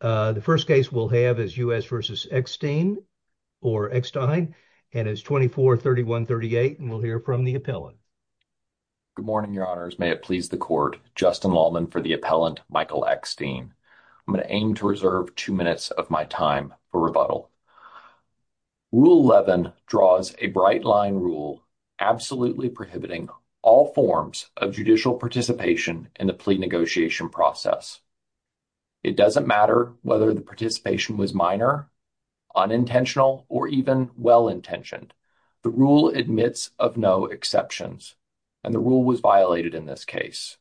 The first case we'll have is U.S. v. Eckstein, and it's 24-31-38, and we'll hear from the appellant. Good morning, your honors. May it please the court, Justin Lalman for the appellant, Michael Eckstein. I'm going to aim to reserve two minutes of my time for rebuttal. Rule 11 draws a bright line rule absolutely prohibiting all forms of judicial participation in the plea negotiation process. It doesn't matter whether the participation was minor, unintentional, or even well-intentioned. The rule admits of no exceptions, and the rule was violated in this case.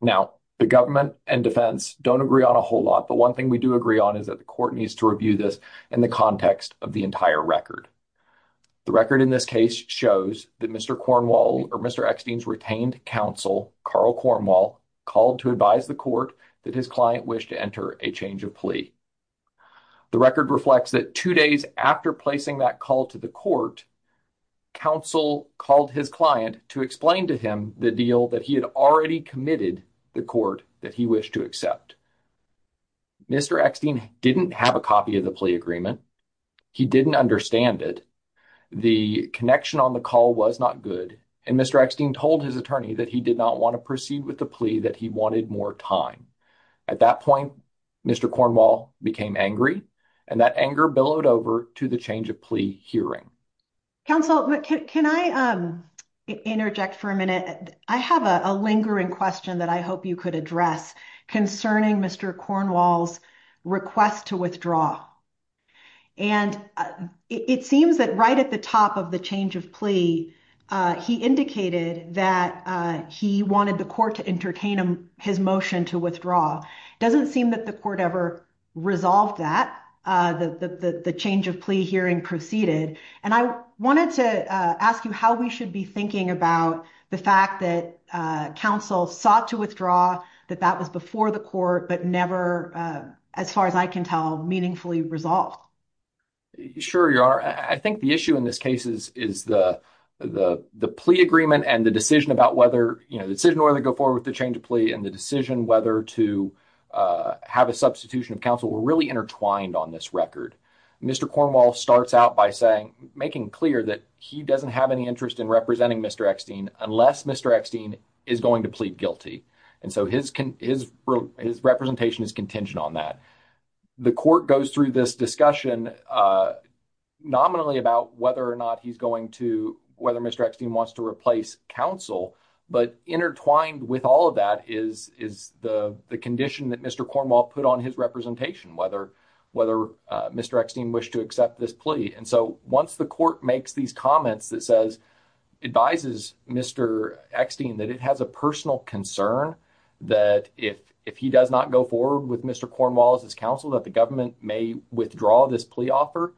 Now, the government and defense don't agree on a whole lot, but one thing we do agree on is that the court needs to review this in the context of the entire record. The record in this case shows that Mr. Cornwall or Mr. Eckstein's retained counsel, Carl Cornwall, called to advise the court that his client wished to enter a change of plea. The record reflects that two days after placing that call to the court, counsel called his client to explain to him the deal that he had already committed the court that he wished to accept. Mr. Eckstein didn't have a copy of the plea agreement. He didn't understand it. The connection on the call was not good, and Mr. Eckstein told his attorney that he did not proceed with the plea, that he wanted more time. At that point, Mr. Cornwall became angry, and that anger billowed over to the change of plea hearing. Counsel, can I interject for a minute? I have a lingering question that I hope you could address concerning Mr. Cornwall's request to withdraw. And it seems that right at the top of the change of plea, he indicated that he wanted the court to entertain his motion to withdraw. It doesn't seem that the court ever resolved that, the change of plea hearing proceeded. And I wanted to ask you how we should be thinking about the fact that counsel sought to withdraw, that that was before the court, but never, as far as I can tell, meaningfully resolved. Sure, your honor. I think the issue in this case is the plea agreement and the decision about whether, you know, the decision whether to go forward with the change of plea and the decision whether to have a substitution of counsel were really intertwined on this record. Mr. Cornwall starts out by saying, making clear that he doesn't have any interest in representing Mr. Eckstein unless Mr. Eckstein is going to plead guilty. And so his representation is contingent on that. The court goes through this discussion nominally about whether or not he's going to, whether Mr. Eckstein wants to replace counsel. But intertwined with all of that is the condition that Mr. Cornwall put on his representation, whether Mr. Eckstein wished to accept this plea. And so once the court makes these comments that says, advises Mr. Eckstein that it has a personal concern that if he does not go forward with Mr. Cornwall as his counsel, that the government may withdraw this plea offer.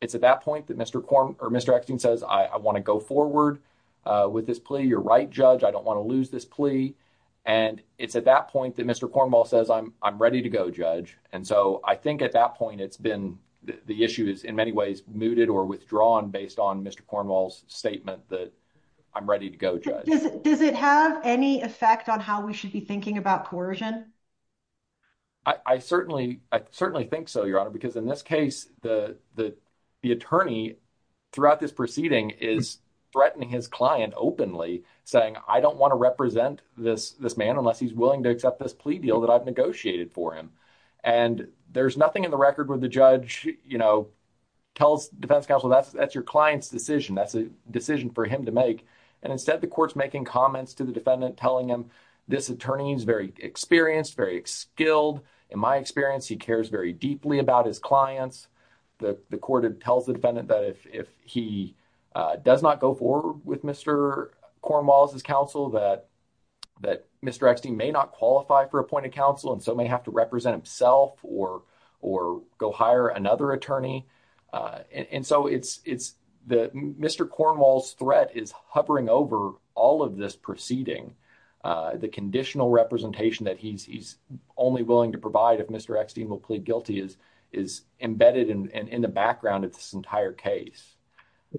It's at that point that Mr. Eckstein says, I want to go forward with this plea. You're right, Judge. I don't want to lose this plea. And it's at that point that Mr. Cornwall says, I'm ready to go, Judge. And so I think at that point, it's been, the issue is in many ways, mooted or withdrawn based on Mr. Cornwall's statement that I'm ready to go, Judge. Does it have any effect on how we should be thinking about coercion? I certainly think so, Your Honor, because in this case, the attorney throughout this proceeding is threatening his client openly saying, I don't want to represent this man unless he's willing to accept this plea deal that I've negotiated for him. And there's nothing in the record where the judge tells defense counsel, that's your client's decision. That's a decision for him to make. And instead, the court's making comments to the defendant telling him, this attorney is very experienced, very skilled. In my experience, he cares very deeply about his clients. The court tells the defendant that if he does not go forward with Mr. Cornwall's counsel, that Mr. Eckstein may not qualify for appointed counsel and so may have to represent himself or go hire another attorney. And so Mr. Cornwall's threat is hovering over all of this proceeding. The conditional representation that he's only willing to provide if Mr. Eckstein will plead guilty is embedded in the background of this entire case.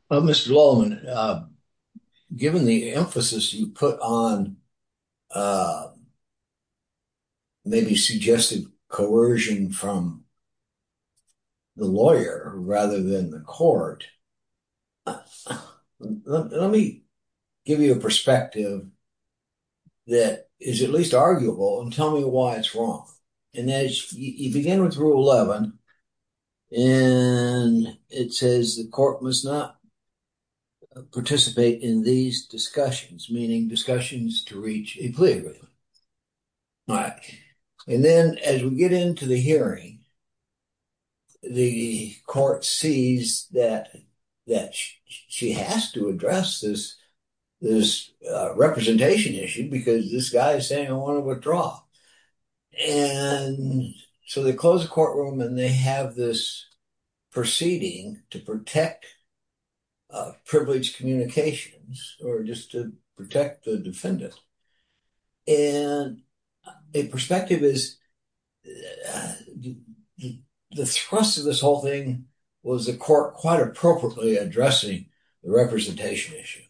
Well, Mr. Lalman, given the emphasis you put on maybe suggested coercion from the lawyer rather than the court, let me give you a perspective that is at least arguable and tell me why it's wrong. And as you began with Rule 11, and it says the court must not participate in these discussions, meaning discussions to reach a plea agreement. And then as we get into the hearing, the court sees that she has to address this representation issue because this guy is saying, I want to withdraw. And so they close the courtroom and they have this proceeding to protect a privileged communications or just to protect the defendant. And the perspective is the thrust of this whole thing was the court quite appropriately addressing the representation issue.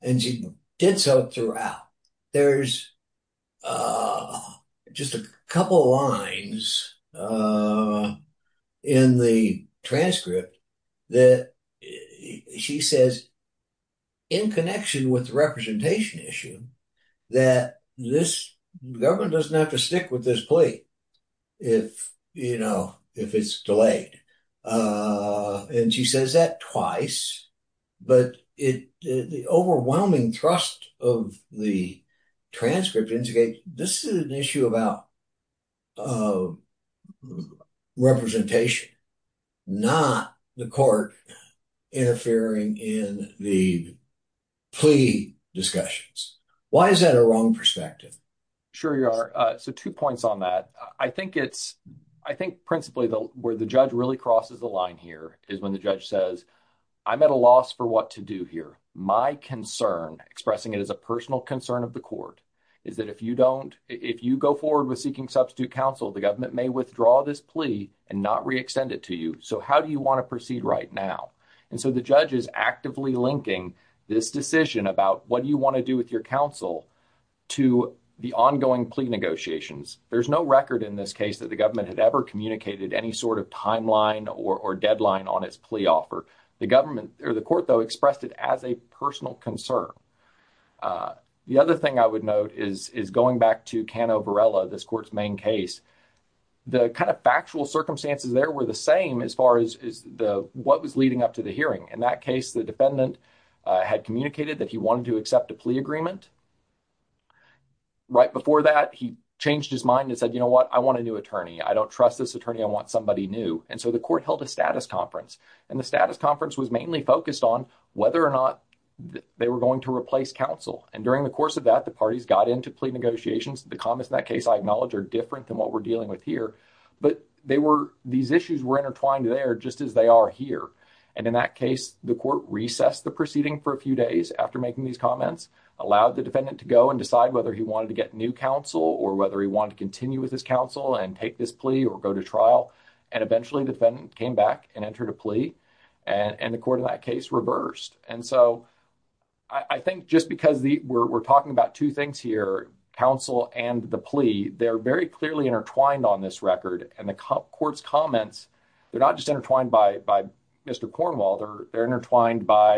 And she did so throughout. There's just a couple lines in the transcript that she says in connection with the representation issue that this government doesn't have to stick with this plea if it's delayed. And she says that twice. But the overwhelming thrust of the transcript indicates this is an issue about representation, not the court interfering in the plea discussions. Why is that a wrong perspective? Sure, you are. So two points on that. I think it's I think principally where the judge really crosses the line here is when the judge says, I'm at a loss for what to do here. My concern, expressing it as a personal concern of the court, is that if you don't if you go forward with seeking substitute counsel, the government may withdraw this plea and not re-extend it to you. So how do you want to proceed right now? And so the judge is actively linking this decision about what do you want to do with your counsel to the ongoing plea negotiations. There's no record in this case that the government had ever communicated any sort of timeline or deadline on its plea offer. The government or the court, though, expressed it as a personal concern. The other thing I would note is going back to Cano Varela, this court's main case. The kind of factual circumstances there were the same as far as what was leading up to the hearing. In that case, the defendant had communicated that he wanted to accept a plea agreement. Right before that, he changed his mind and said, you know what, I want a new attorney. I don't trust this attorney. I want somebody new. And so the court held a status conference, and the status And during the course of that, the parties got into plea negotiations. The comments in that case, I acknowledge, are different than what we're dealing with here, but these issues were intertwined there just as they are here. And in that case, the court recessed the proceeding for a few days after making these comments, allowed the defendant to go and decide whether he wanted to get new counsel or whether he wanted to continue with his counsel and take this plea or go to trial, and eventually the defendant came back and entered a plea, and the court in that case reversed. And so I think just because we're talking about two things here, counsel and the plea, they're very clearly intertwined on this record. And the court's comments, they're not just intertwined by Mr. Cornwall, they're intertwined by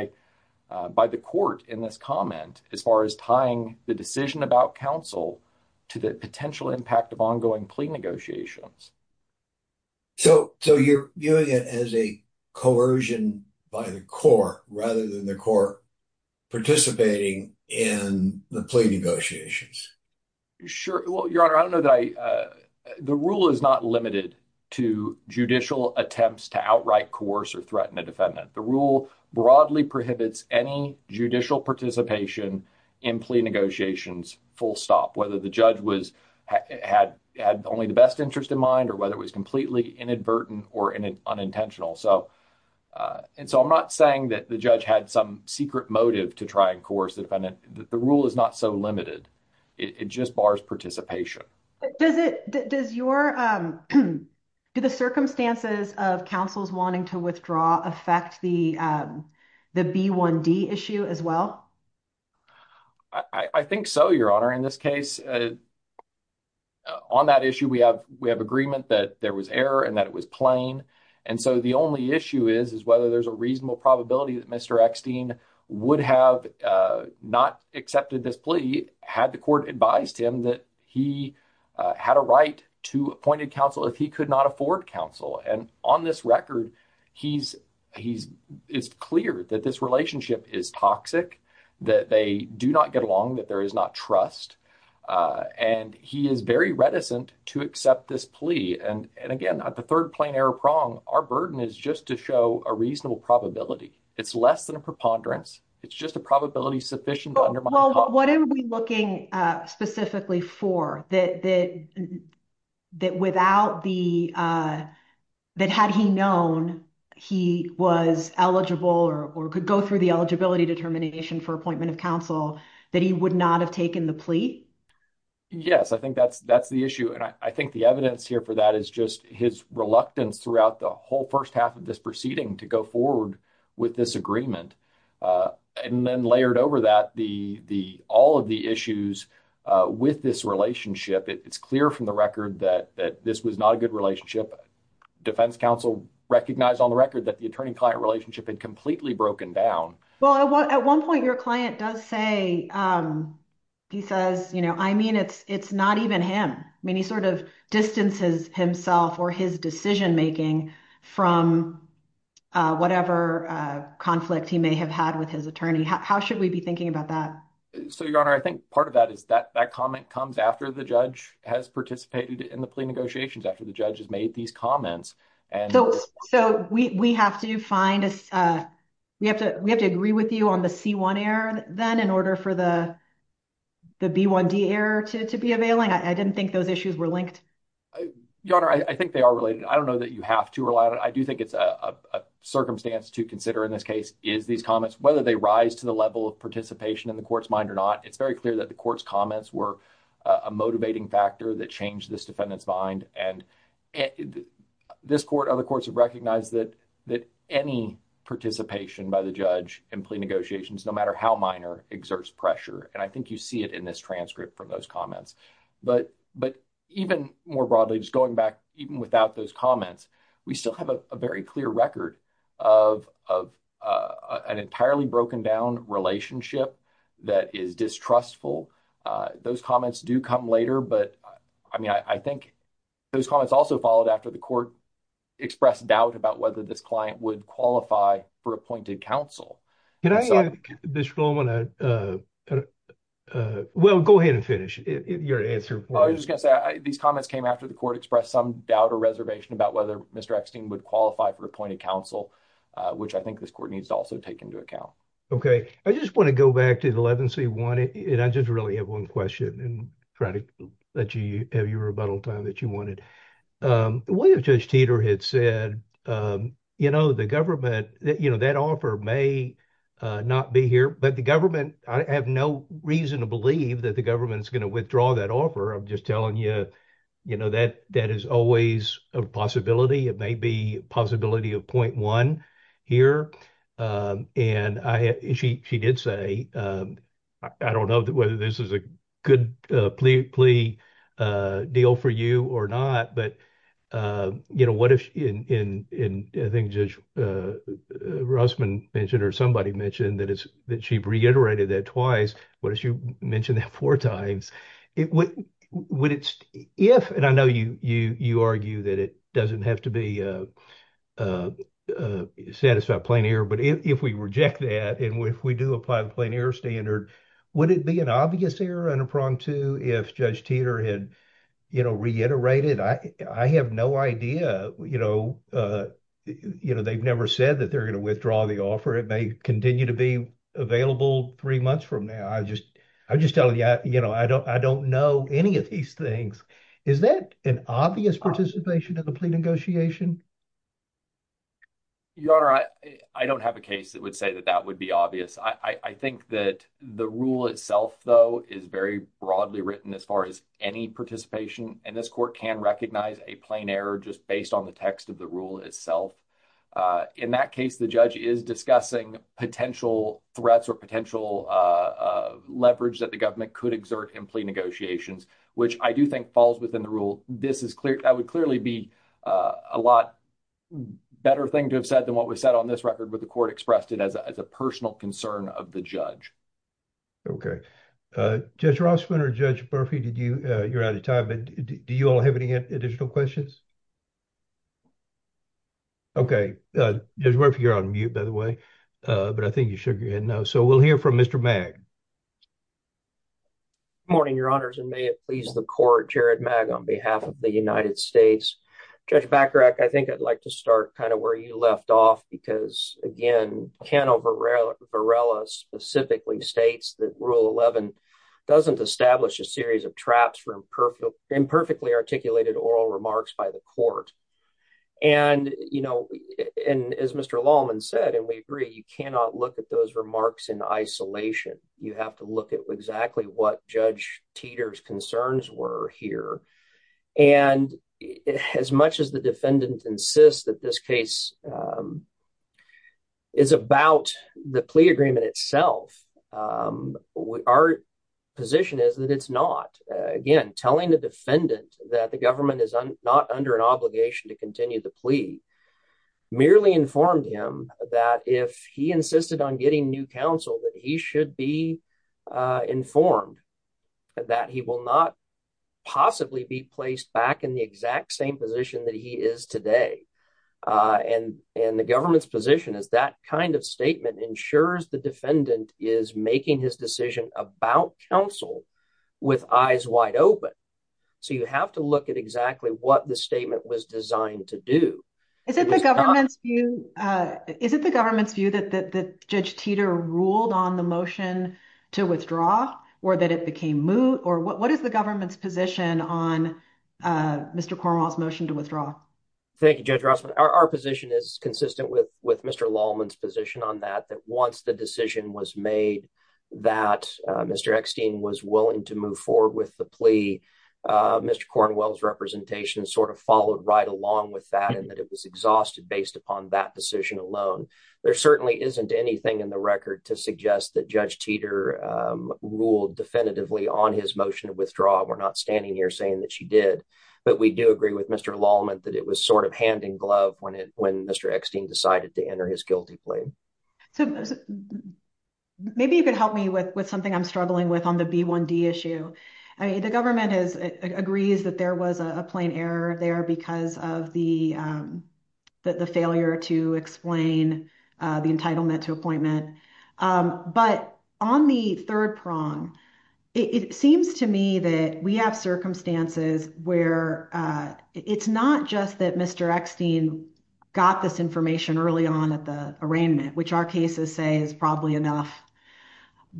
the court in this comment as far as tying the decision about counsel to the potential impact of ongoing plea negotiations. So you're viewing it as a coercion by the court rather than the court participating in the plea negotiations? Sure. Well, Your Honor, I don't know that I... The rule is not limited to judicial attempts to outright coerce or threaten a defendant. The rule broadly prohibits any judicial participation in plea negotiations full stop, whether the judge had only the best interest in mind or whether it was completely inadvertent or unintentional. And so I'm not saying that the judge had some secret motive to try and coerce the defendant. The rule is not so limited. It just bars participation. Do the circumstances of counsels wanting to withdraw affect the B1D issue as well? I think so, Your Honor. In this case, on that issue, we have agreement that there was error and that it was plain. And so the only issue is, is whether there's a reasonable probability that Mr. Eckstein would have not accepted this plea had the court advised him that he had a right to appointed counsel if he could not afford counsel. And on this record, it's clear that this relationship is toxic, that they do not get along, that there is not trust. And he is very reticent to accept this plea. And again, at the third plain error prong, our burden is just to show a reasonable probability. It's less than a preponderance. It's just a probability sufficient to undermine the problem. Well, what are we looking specifically for? That without the... That had he known he was eligible or could go through the eligibility determination for appointment of counsel, that he would not have taken the plea? Yes, I think that's the issue. And I think the evidence here for that is just his reluctance throughout the whole first half of this proceeding to go forward with this agreement. And then layered over that, all of the issues with this relationship, it's clear from the record that this was not a good relationship. Defense counsel recognized on the record that the attorney-client relationship had completely broken down. Well, at one point, your client does say, he says, I mean, it's not even him. I mean, he sort of distances himself or his decision-making from whatever conflict he may have had with his attorney. How should we be thinking about that? So, Your Honor, I think part of that is that that comment comes after the judge has participated in the plea negotiations, after the judge has made these comments. So, we have to agree with you on the C1 error then in order for the the B1D error to be availing? I didn't think those issues were linked. Your Honor, I think they are related. I don't know that you have to rely on it. I do think it's a circumstance to consider in this case, is these comments, whether they rise to the level of participation in the court's mind or not. It's very clear that the court's comments were a motivating factor that changed this defendant's mind. And this court, other courts have recognized that any participation by the judge in plea negotiations, no matter how minor, exerts pressure. And I think you see it in this transcript from those comments. But even more broadly, just going back, even without those comments, we still have a very but I mean, I think those comments also followed after the court expressed doubt about whether this client would qualify for appointed counsel. Well, go ahead and finish your answer. Well, I was just going to say, these comments came after the court expressed some doubt or reservation about whether Mr. Eckstein would qualify for appointed counsel, which I think this court needs to also take into account. Okay. I just want to go back to the 11C1 and I just really have one question. And try to let you have your rebuttal time that you wanted. The way that Judge Teeter had said, you know, the government, you know, that offer may not be here, but the government, I have no reason to believe that the government is going to withdraw that offer. I'm just telling you, you know, that is always a possibility. It may be a possibility of 0.1 here. And she did say, I don't know whether this is a good plea deal for you or not. But, you know, what if, and I think Judge Rossman mentioned or somebody mentioned that she reiterated that twice. What if she mentioned that four times? Would it, if, and I know you argue that it doesn't have to be a satisfied plain error, but if we reject that and if we do apply the plain error standard, would it be an obvious error under prong two if Judge Teeter had, you know, reiterated? I have no idea, you know, you know, they've never said that they're going to withdraw the offer. It may continue to be available three months from now. I just, I'm just telling you, you know, I don't, know any of these things. Is that an obvious participation in the plea negotiation? Your Honor, I don't have a case that would say that that would be obvious. I think that the rule itself though is very broadly written as far as any participation. And this court can recognize a plain error just based on the text of the rule itself. In that case, the judge is discussing potential threats or potential leverage that the government could exert in plea negotiations, which I do think falls within the rule. This is clear. That would clearly be a lot better thing to have said than what was said on this record, but the court expressed it as a personal concern of the judge. Okay. Judge Rossman or Judge Murphy, did you, you're out of time, but do you all have any additional questions? Okay. Judge Murphy, you're on mute, by the way, but I think you should know. So we'll hear from Mr. Mag. Good morning, Your Honors, and may it please the court, Jared Mag on behalf of the United States. Judge Bacharach, I think I'd like to start kind of where you left off because again, Cano Varela specifically states that Rule 11 doesn't establish a series of traps for imperfectly articulated oral remarks by the court. And, you know, and as Mr. Lalman said, and we agree, you cannot look at those remarks in isolation. You have to look at exactly what Judge Teeter's concerns were here. And as much as the defendant insists that this case is about the plea agreement itself, our position is that it's not. Again, telling the defendant that the government is not under an obligation to continue the plea merely informed him that if he insisted on getting new counsel, that he should be informed that he will not possibly be placed back in the exact same position that he is today. And the government's position is that kind of statement ensures the defendant is making his decision about counsel with eyes wide open. So you have to look at exactly what the statement was designed to do. Is it the government's view, is it the government's view that Judge Teeter ruled on the motion to withdraw or that it became moot? Or what is the government's position on Mr. Cornwall's motion to withdraw? Thank you, our position is consistent with Mr. Lalman's position on that, that once the decision was made that Mr. Eckstein was willing to move forward with the plea, Mr. Cornwall's representation sort of followed right along with that and that it was exhausted based upon that decision alone. There certainly isn't anything in the record to suggest that Judge Teeter ruled definitively on his motion to withdraw. We're not standing here saying that she did, but we do agree with Mr. Lalman that it was sort of hand in glove when it, when Mr. Eckstein decided to enter his guilty plea. So maybe you could help me with something I'm struggling with on the B1D issue. I mean, the government has, agrees that there was a plain error there because of the failure to explain the entitlement to appointment. But on the third prong, it seems to me that we have circumstances where it's not just that Mr. Eckstein got this information early on at the arraignment, which our cases say is probably enough,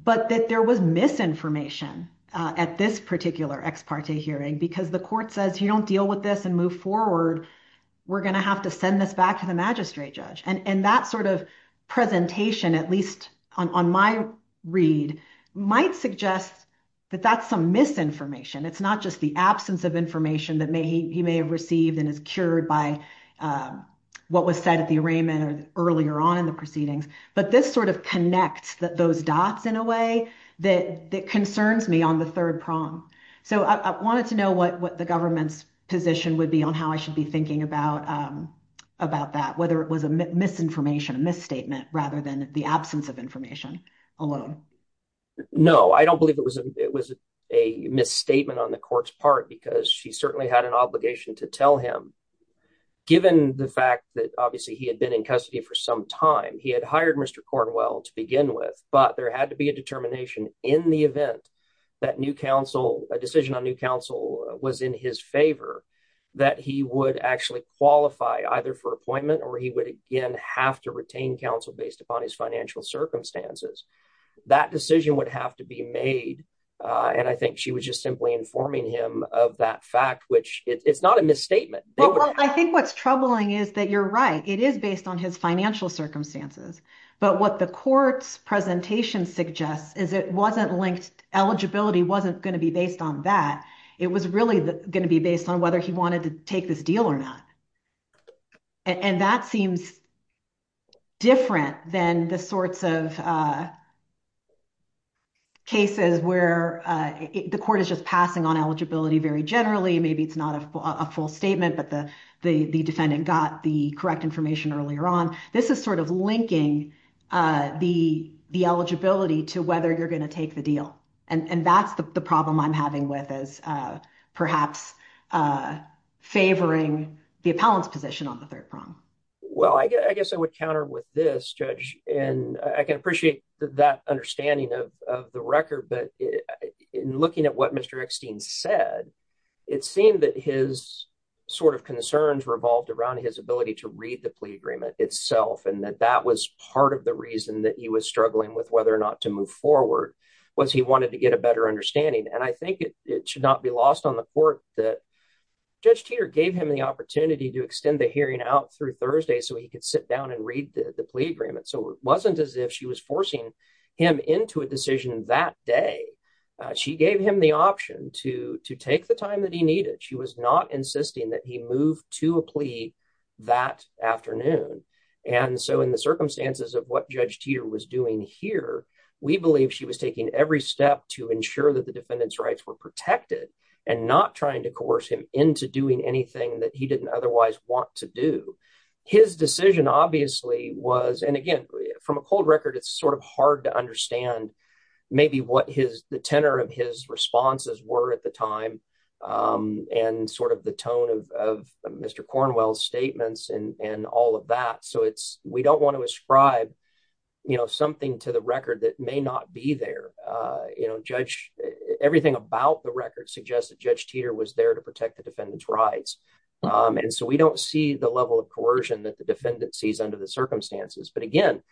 but that there was misinformation at this particular ex parte hearing because the court says, you don't deal with this and move forward. We're going to have to send this back to the magistrate judge. And that sort of presentation, at least on my read, might suggest that that's some misinformation. It's not just the absence of information that he may have received and is cured by what was said at the arraignment or earlier on in the proceedings. But this sort of connects those dots in a way that concerns me on the third prong. So I wanted to know what the government's position would be on how I should be thinking about that, whether it was a misinformation, a misstatement rather than the absence of information alone. No, I don't believe it was a misstatement on the court's part because she certainly had an obligation to tell him, given the fact that obviously he had been in custody for some time. He had hired Mr. Cornwell to begin with, but there had to be a determination in the event that a decision on new counsel was in his favor, that he would actually qualify either for appointment or he would again have to retain counsel based upon his financial circumstances. That decision would have to be made. And I think she was just simply informing him of that fact, which it's not a misstatement. Well, I think what's troubling is that you're right. It is based on his financial circumstances. But what the court's presentation suggests is it wasn't linked. Eligibility wasn't going to be based on that. It was really going to be based on whether he wanted to take this deal or not. And that seems different than the sorts of cases where the court is just passing on eligibility very generally. Maybe it's not a full statement, but the defendant got the correct information earlier on. This is sort of linking the eligibility to whether you're going to take the deal. And that's the problem I'm having with is perhaps favoring the appellant's position on the third prong. Well, I guess I would counter with this, Judge, and I can appreciate that understanding of the record. But in looking at what Mr. Eckstein said, it seemed that his sort of concerns revolved around his ability to read the plea agreement itself and that that was part of the reason that he was struggling with whether or not to move forward was he wanted to get a better understanding. And I think it should not be lost on the court that Judge Teeter gave him the opportunity to extend the hearing out through Thursday so he could sit down and read the plea agreement. So it wasn't as if she was forcing him into a decision that day. She gave him the option to take the time that he needed. She was not insisting that he move to a plea that afternoon. And so in the circumstances of what Judge Teeter was doing here, we believe she was taking every step to ensure that the defendant's rights were protected and not trying to coerce him into doing anything that he didn't otherwise want to do. His decision obviously was, and again, from a cold record, it's sort of hard to understand maybe what the tenor of his responses were at the time and sort of the tone of Mr. Cornwell's statements and all of that. So we don't want to ascribe something to the record that may not be there. Everything about the record suggests that Judge Teeter was there to protect the defendant's rights. And so we don't see the level of coercion that the defendant sees under the circumstances. But again,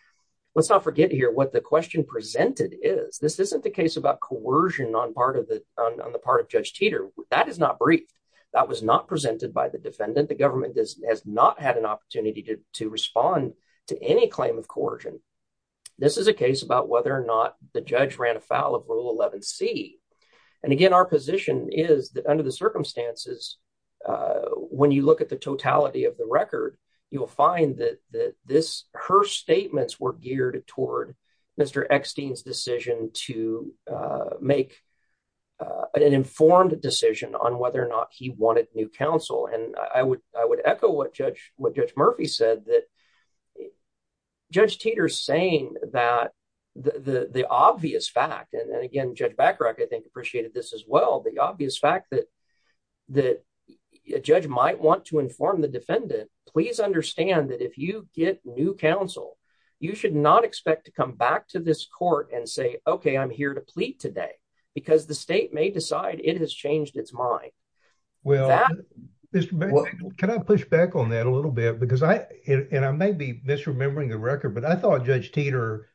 let's not forget here what the question presented is. This isn't the case about coercion on the part of Judge Teeter. That is not brief. That was not presented by the defendant. The government has not had an opportunity to respond to any claim of coercion. This is a case about whether or not the judge ran afoul of Rule 11C. And again, our position is that under the circumstances, when you look at the totality of the record, you will find that her statements were geared toward Mr. Eckstein's decision to make an informed decision on whether or not he wanted new counsel. And I would echo what Judge said that Judge Teeter's saying that the obvious fact, and again, Judge Bacharach, I think, appreciated this as well, the obvious fact that a judge might want to inform the defendant, please understand that if you get new counsel, you should not expect to come back to this court and say, okay, I'm here to plead today, because the state may decide it has changed its mind. Can I push back on that a little bit? Because I may be misremembering the record, but I thought Judge Teeter,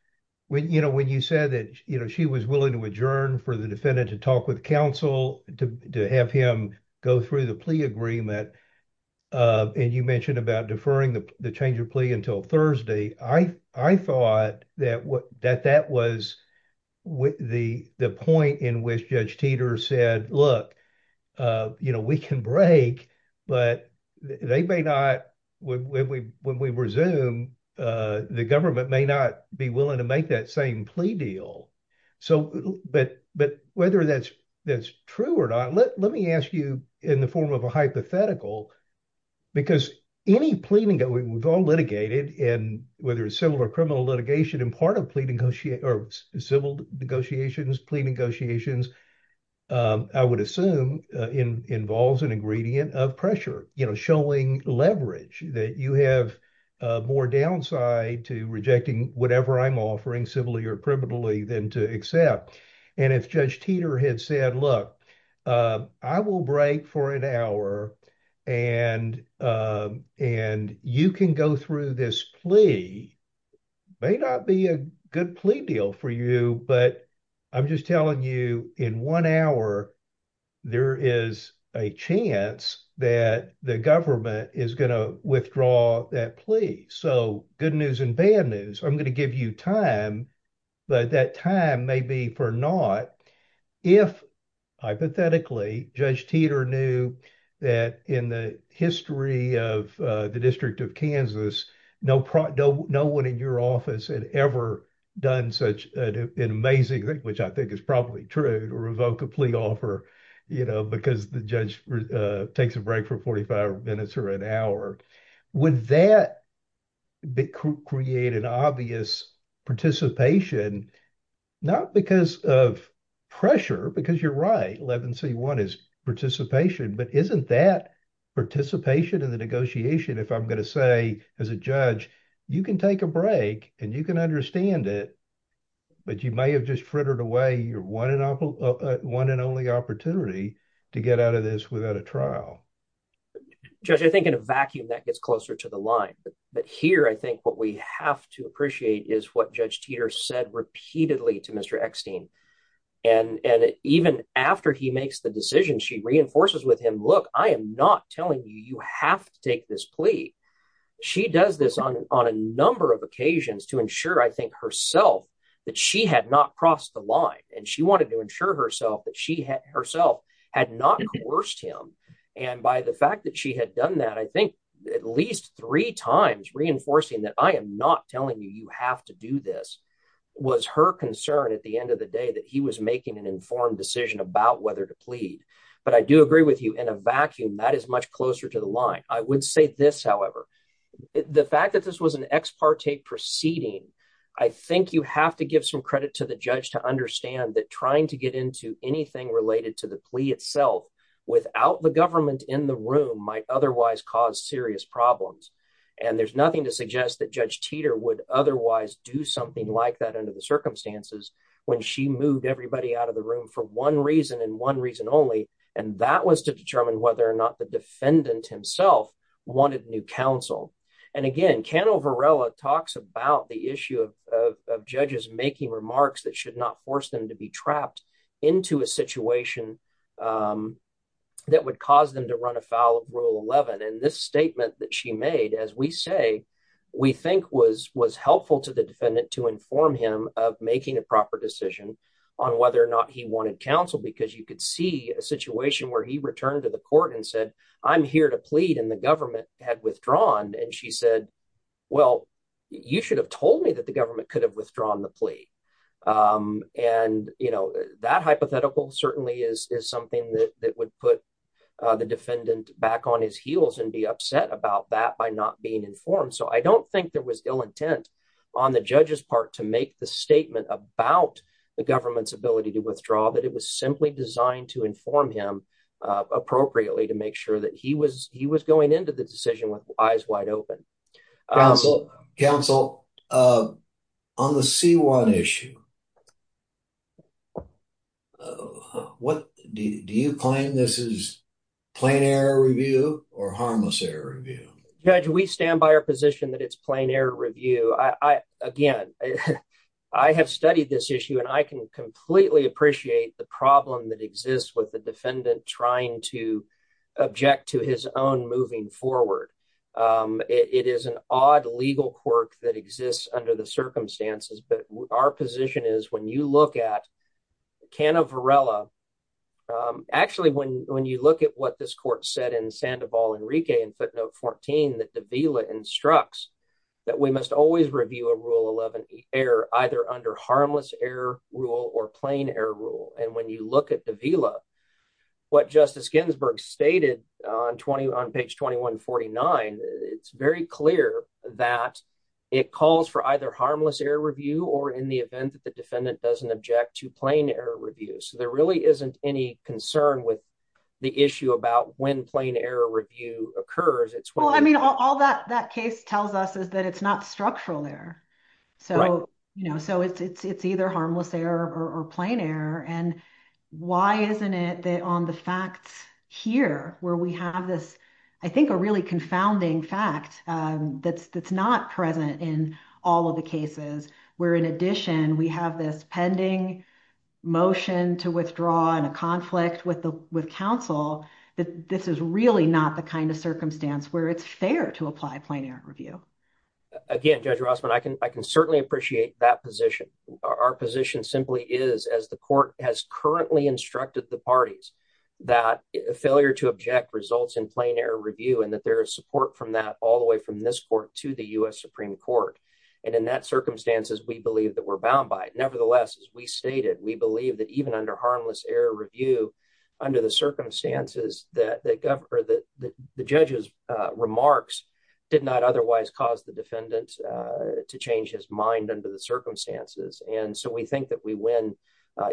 when you said that she was willing to adjourn for the defendant to talk with counsel, to have him go through the plea agreement, and you mentioned about deferring the change of plea until Thursday, I thought that that was the point in which Judge Teeter said, look, we can break, but they may not, when we resume, the government may not be willing to make that same plea deal. But whether that's true or not, let me ask you in the form of a hypothetical, because any plea, we've all litigated in whether it's civil or criminal litigation, and part of civil negotiations, plea negotiations, I would assume involves an ingredient of pressure, showing leverage that you have more downside to rejecting whatever I'm offering civilly or privately than to accept. And if Judge Teeter had said, look, I will break for an hour, and you can go through this plea, may not be a good plea deal for you, but I'm just telling you in one hour, there is a chance that the government is going to withdraw that plea. So good news and bad news, I'm going to give you time, but that time may be for naught if, hypothetically, Judge Teeter knew that in the history of the District of Kansas, no one in your office had ever done such an amazing thing, which I think is probably true, to revoke a plea offer because the judge takes a break for 45 minutes or an hour. Would that create an obvious participation, not because of pressure, because you're right, 11C1 is participation, but isn't that participation in the negotiation if I'm going to say, as a judge, you can take a break and you can understand it, but you may have just frittered away your one and only opportunity to get out of this without a trial? Judge, I think in a vacuum, that gets closer to the line, but here, I think what we have to appreciate is what Judge Teeter said repeatedly to Mr. Eckstein, and even after he makes the decision, she reinforces with him, look, I am not telling you, you have to take this plea. She does this on a number of occasions to ensure, I think, herself, that she had not crossed the line, and she wanted to ensure herself that she herself had not coerced him, and by the fact that she had done that, I think at least three times reinforcing that I am not telling you, you have to do this, was her concern at the end of the day that he was making an informed decision about whether to plead, but I do agree with you, in a vacuum, that is much closer to the line. I would say this, however, the fact that this was an ex parte proceeding, I think you have to give some credit to the judge to understand that trying to get into anything related to the plea itself without the government in the room might otherwise cause serious problems, and there's nothing to suggest that Judge Teeter would otherwise do something like that under the circumstances when she moved everybody out of the room for one reason and one reason only, and that was to determine whether or not the defendant himself wanted new counsel, and again, Cano Varela talks about the issue of judges making remarks that should not force them to be trapped into a situation that would cause them to run afoul of Rule 11, and this statement that she made, as we say, we think was helpful to the defendant to inform him of making a proper decision on whether or not he wanted counsel, because you could see a situation where he returned to the court and said, I'm here to plead, and the government had withdrawn, and she said, well, you should have told me that the government could have withdrawn the plea, and you know, that hypothetical certainly is something that would put the defendant back on his heels and be upset about that by not being informed, so I don't think there was ill intent on the judge's part to make the statement about the government's ability to withdraw, that it was simply designed to inform him appropriately to make sure that he was going into the decision with eyes wide open. Counsel, on the C-1 issue, do you claim this is plain error review or harmless error review? Judge, we stand by our position that it's plain error review. Again, I have studied this issue, and I can completely appreciate the problem that exists with the defendant trying to object to his own moving forward. It is an odd legal quirk that exists under the circumstances, but our position is, when you look at Canna Varela, actually, when you look at what this court said in Sandoval Enrique in footnote 14, that de Villa instructs that we must always review error either under harmless error rule or plain error rule, and when you look at de Villa, what Justice Ginsburg stated on page 2149, it's very clear that it calls for either harmless error review or in the event that the defendant doesn't object to plain error review, so there really isn't any concern with the issue about when plain error review occurs. All that case tells us is that it's not structural error, so it's either harmless error or plain error, and why isn't it that on the facts here where we have this, I think, a really confounding fact that's not present in all of the cases where, in addition, we have this pending motion to withdraw in a conflict with counsel, that this is really not the kind of circumstance where it's fair to apply plain error review. Again, Judge Rossman, I can certainly appreciate that position. Our position simply is, as the court has currently instructed the parties, that failure to object results in plain error review and that there is support from that all the way from this court to the U.S. Supreme Court, and in that circumstances, we believe that we're bound by it. Nevertheless, as we stated, we believe that even under harmless error review, under the circumstances that the judge's remarks did not otherwise cause the defendant to change his mind under the circumstances, and so we think that we win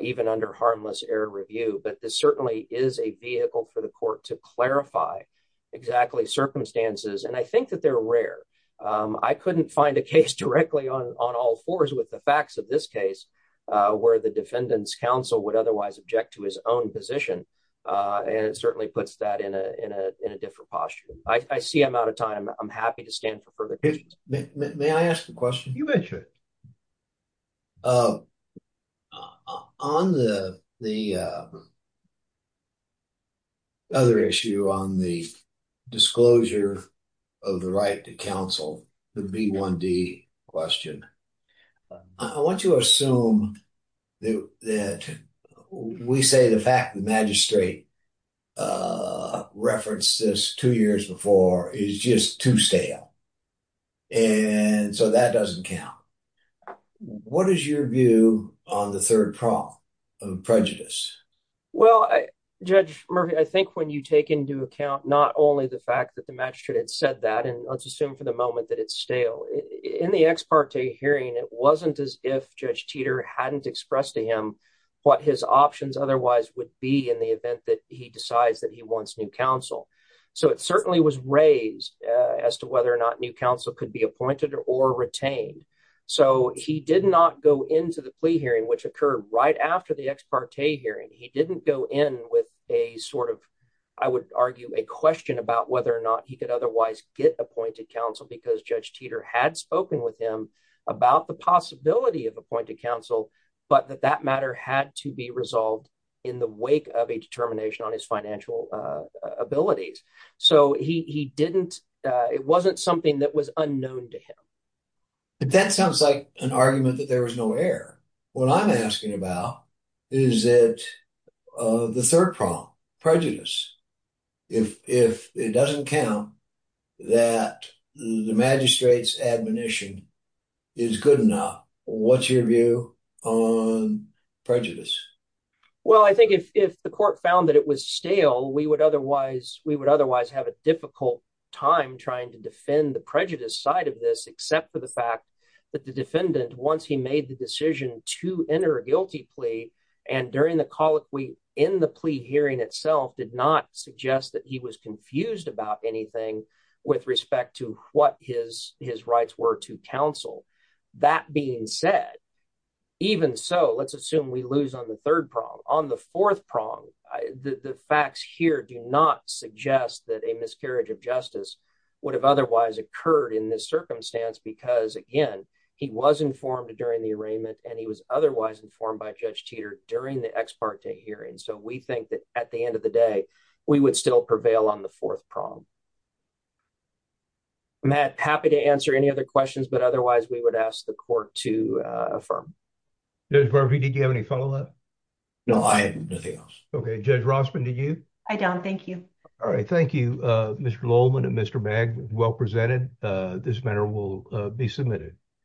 even under harmless error review, but this certainly is a vehicle for the court to clarify exactly circumstances, and I think that they're rare. I couldn't find a case directly on all fours with the facts of this case where the defendant's counsel would otherwise object to his own position, and it certainly puts that in a different posture. I see I'm out of time. I'm happy to stand for further questions. May I ask a question? You betcha. On the other issue on the disclosure of the right to counsel, the B1D question, I want you to assume that we say the fact the magistrate referenced this two years before is just too stale, and so that doesn't count. What is your view on the third problem of prejudice? Well, Judge Murphy, I think when you take into account not only the fact that the magistrate had said that, and let's assume for the moment that it's stale. In the ex parte hearing, it wasn't as if Judge Teeter hadn't expressed to him what his options otherwise would be in the event that he decides that he wants new counsel, so it certainly was raised as to whether or not new counsel could be appointed or retained, so he did not go into the plea hearing, which occurred right after the ex parte hearing. He didn't go in with a sort of, I would argue, a question about whether or not he could otherwise get appointed counsel because Judge Teeter had spoken with him about the possibility of appointed counsel, but that that matter had to be resolved in the wake of a determination on his financial abilities, so it wasn't something that was unknown to him. But that sounds like an argument that there was no error. What I'm asking about is that the third problem, prejudice. If it doesn't count that the magistrate's admonition is good enough, what's your view on prejudice? Well, I think if the court found that it was stale, we would otherwise have a difficult time trying to defend the prejudice side of this except for the fact that the defendant, once he made the decision to enter a guilty plea and during the colloquy in the plea hearing itself, did not suggest that he was confused about anything with respect to what his rights were to counsel. That being said, even so, let's assume we lose on the third prong. On the fourth prong, the facts here do not suggest that a miscarriage of justice would have otherwise occurred in this circumstance because, again, he was informed during the arraignment and he was otherwise informed by Judge Teeter during the ex parte hearing. So we think that at the end of the day, we would still prevail on the fourth prong. Matt, happy to answer any other questions, but otherwise we would ask the court to affirm. Judge Barbee, did you have any follow-up? No, I had nothing else. Okay, Judge Rossman, did you? I don't, thank you. All right, thank you, Mr. Lohlman and Mr. Magg. Well presented. This matter will be submitted.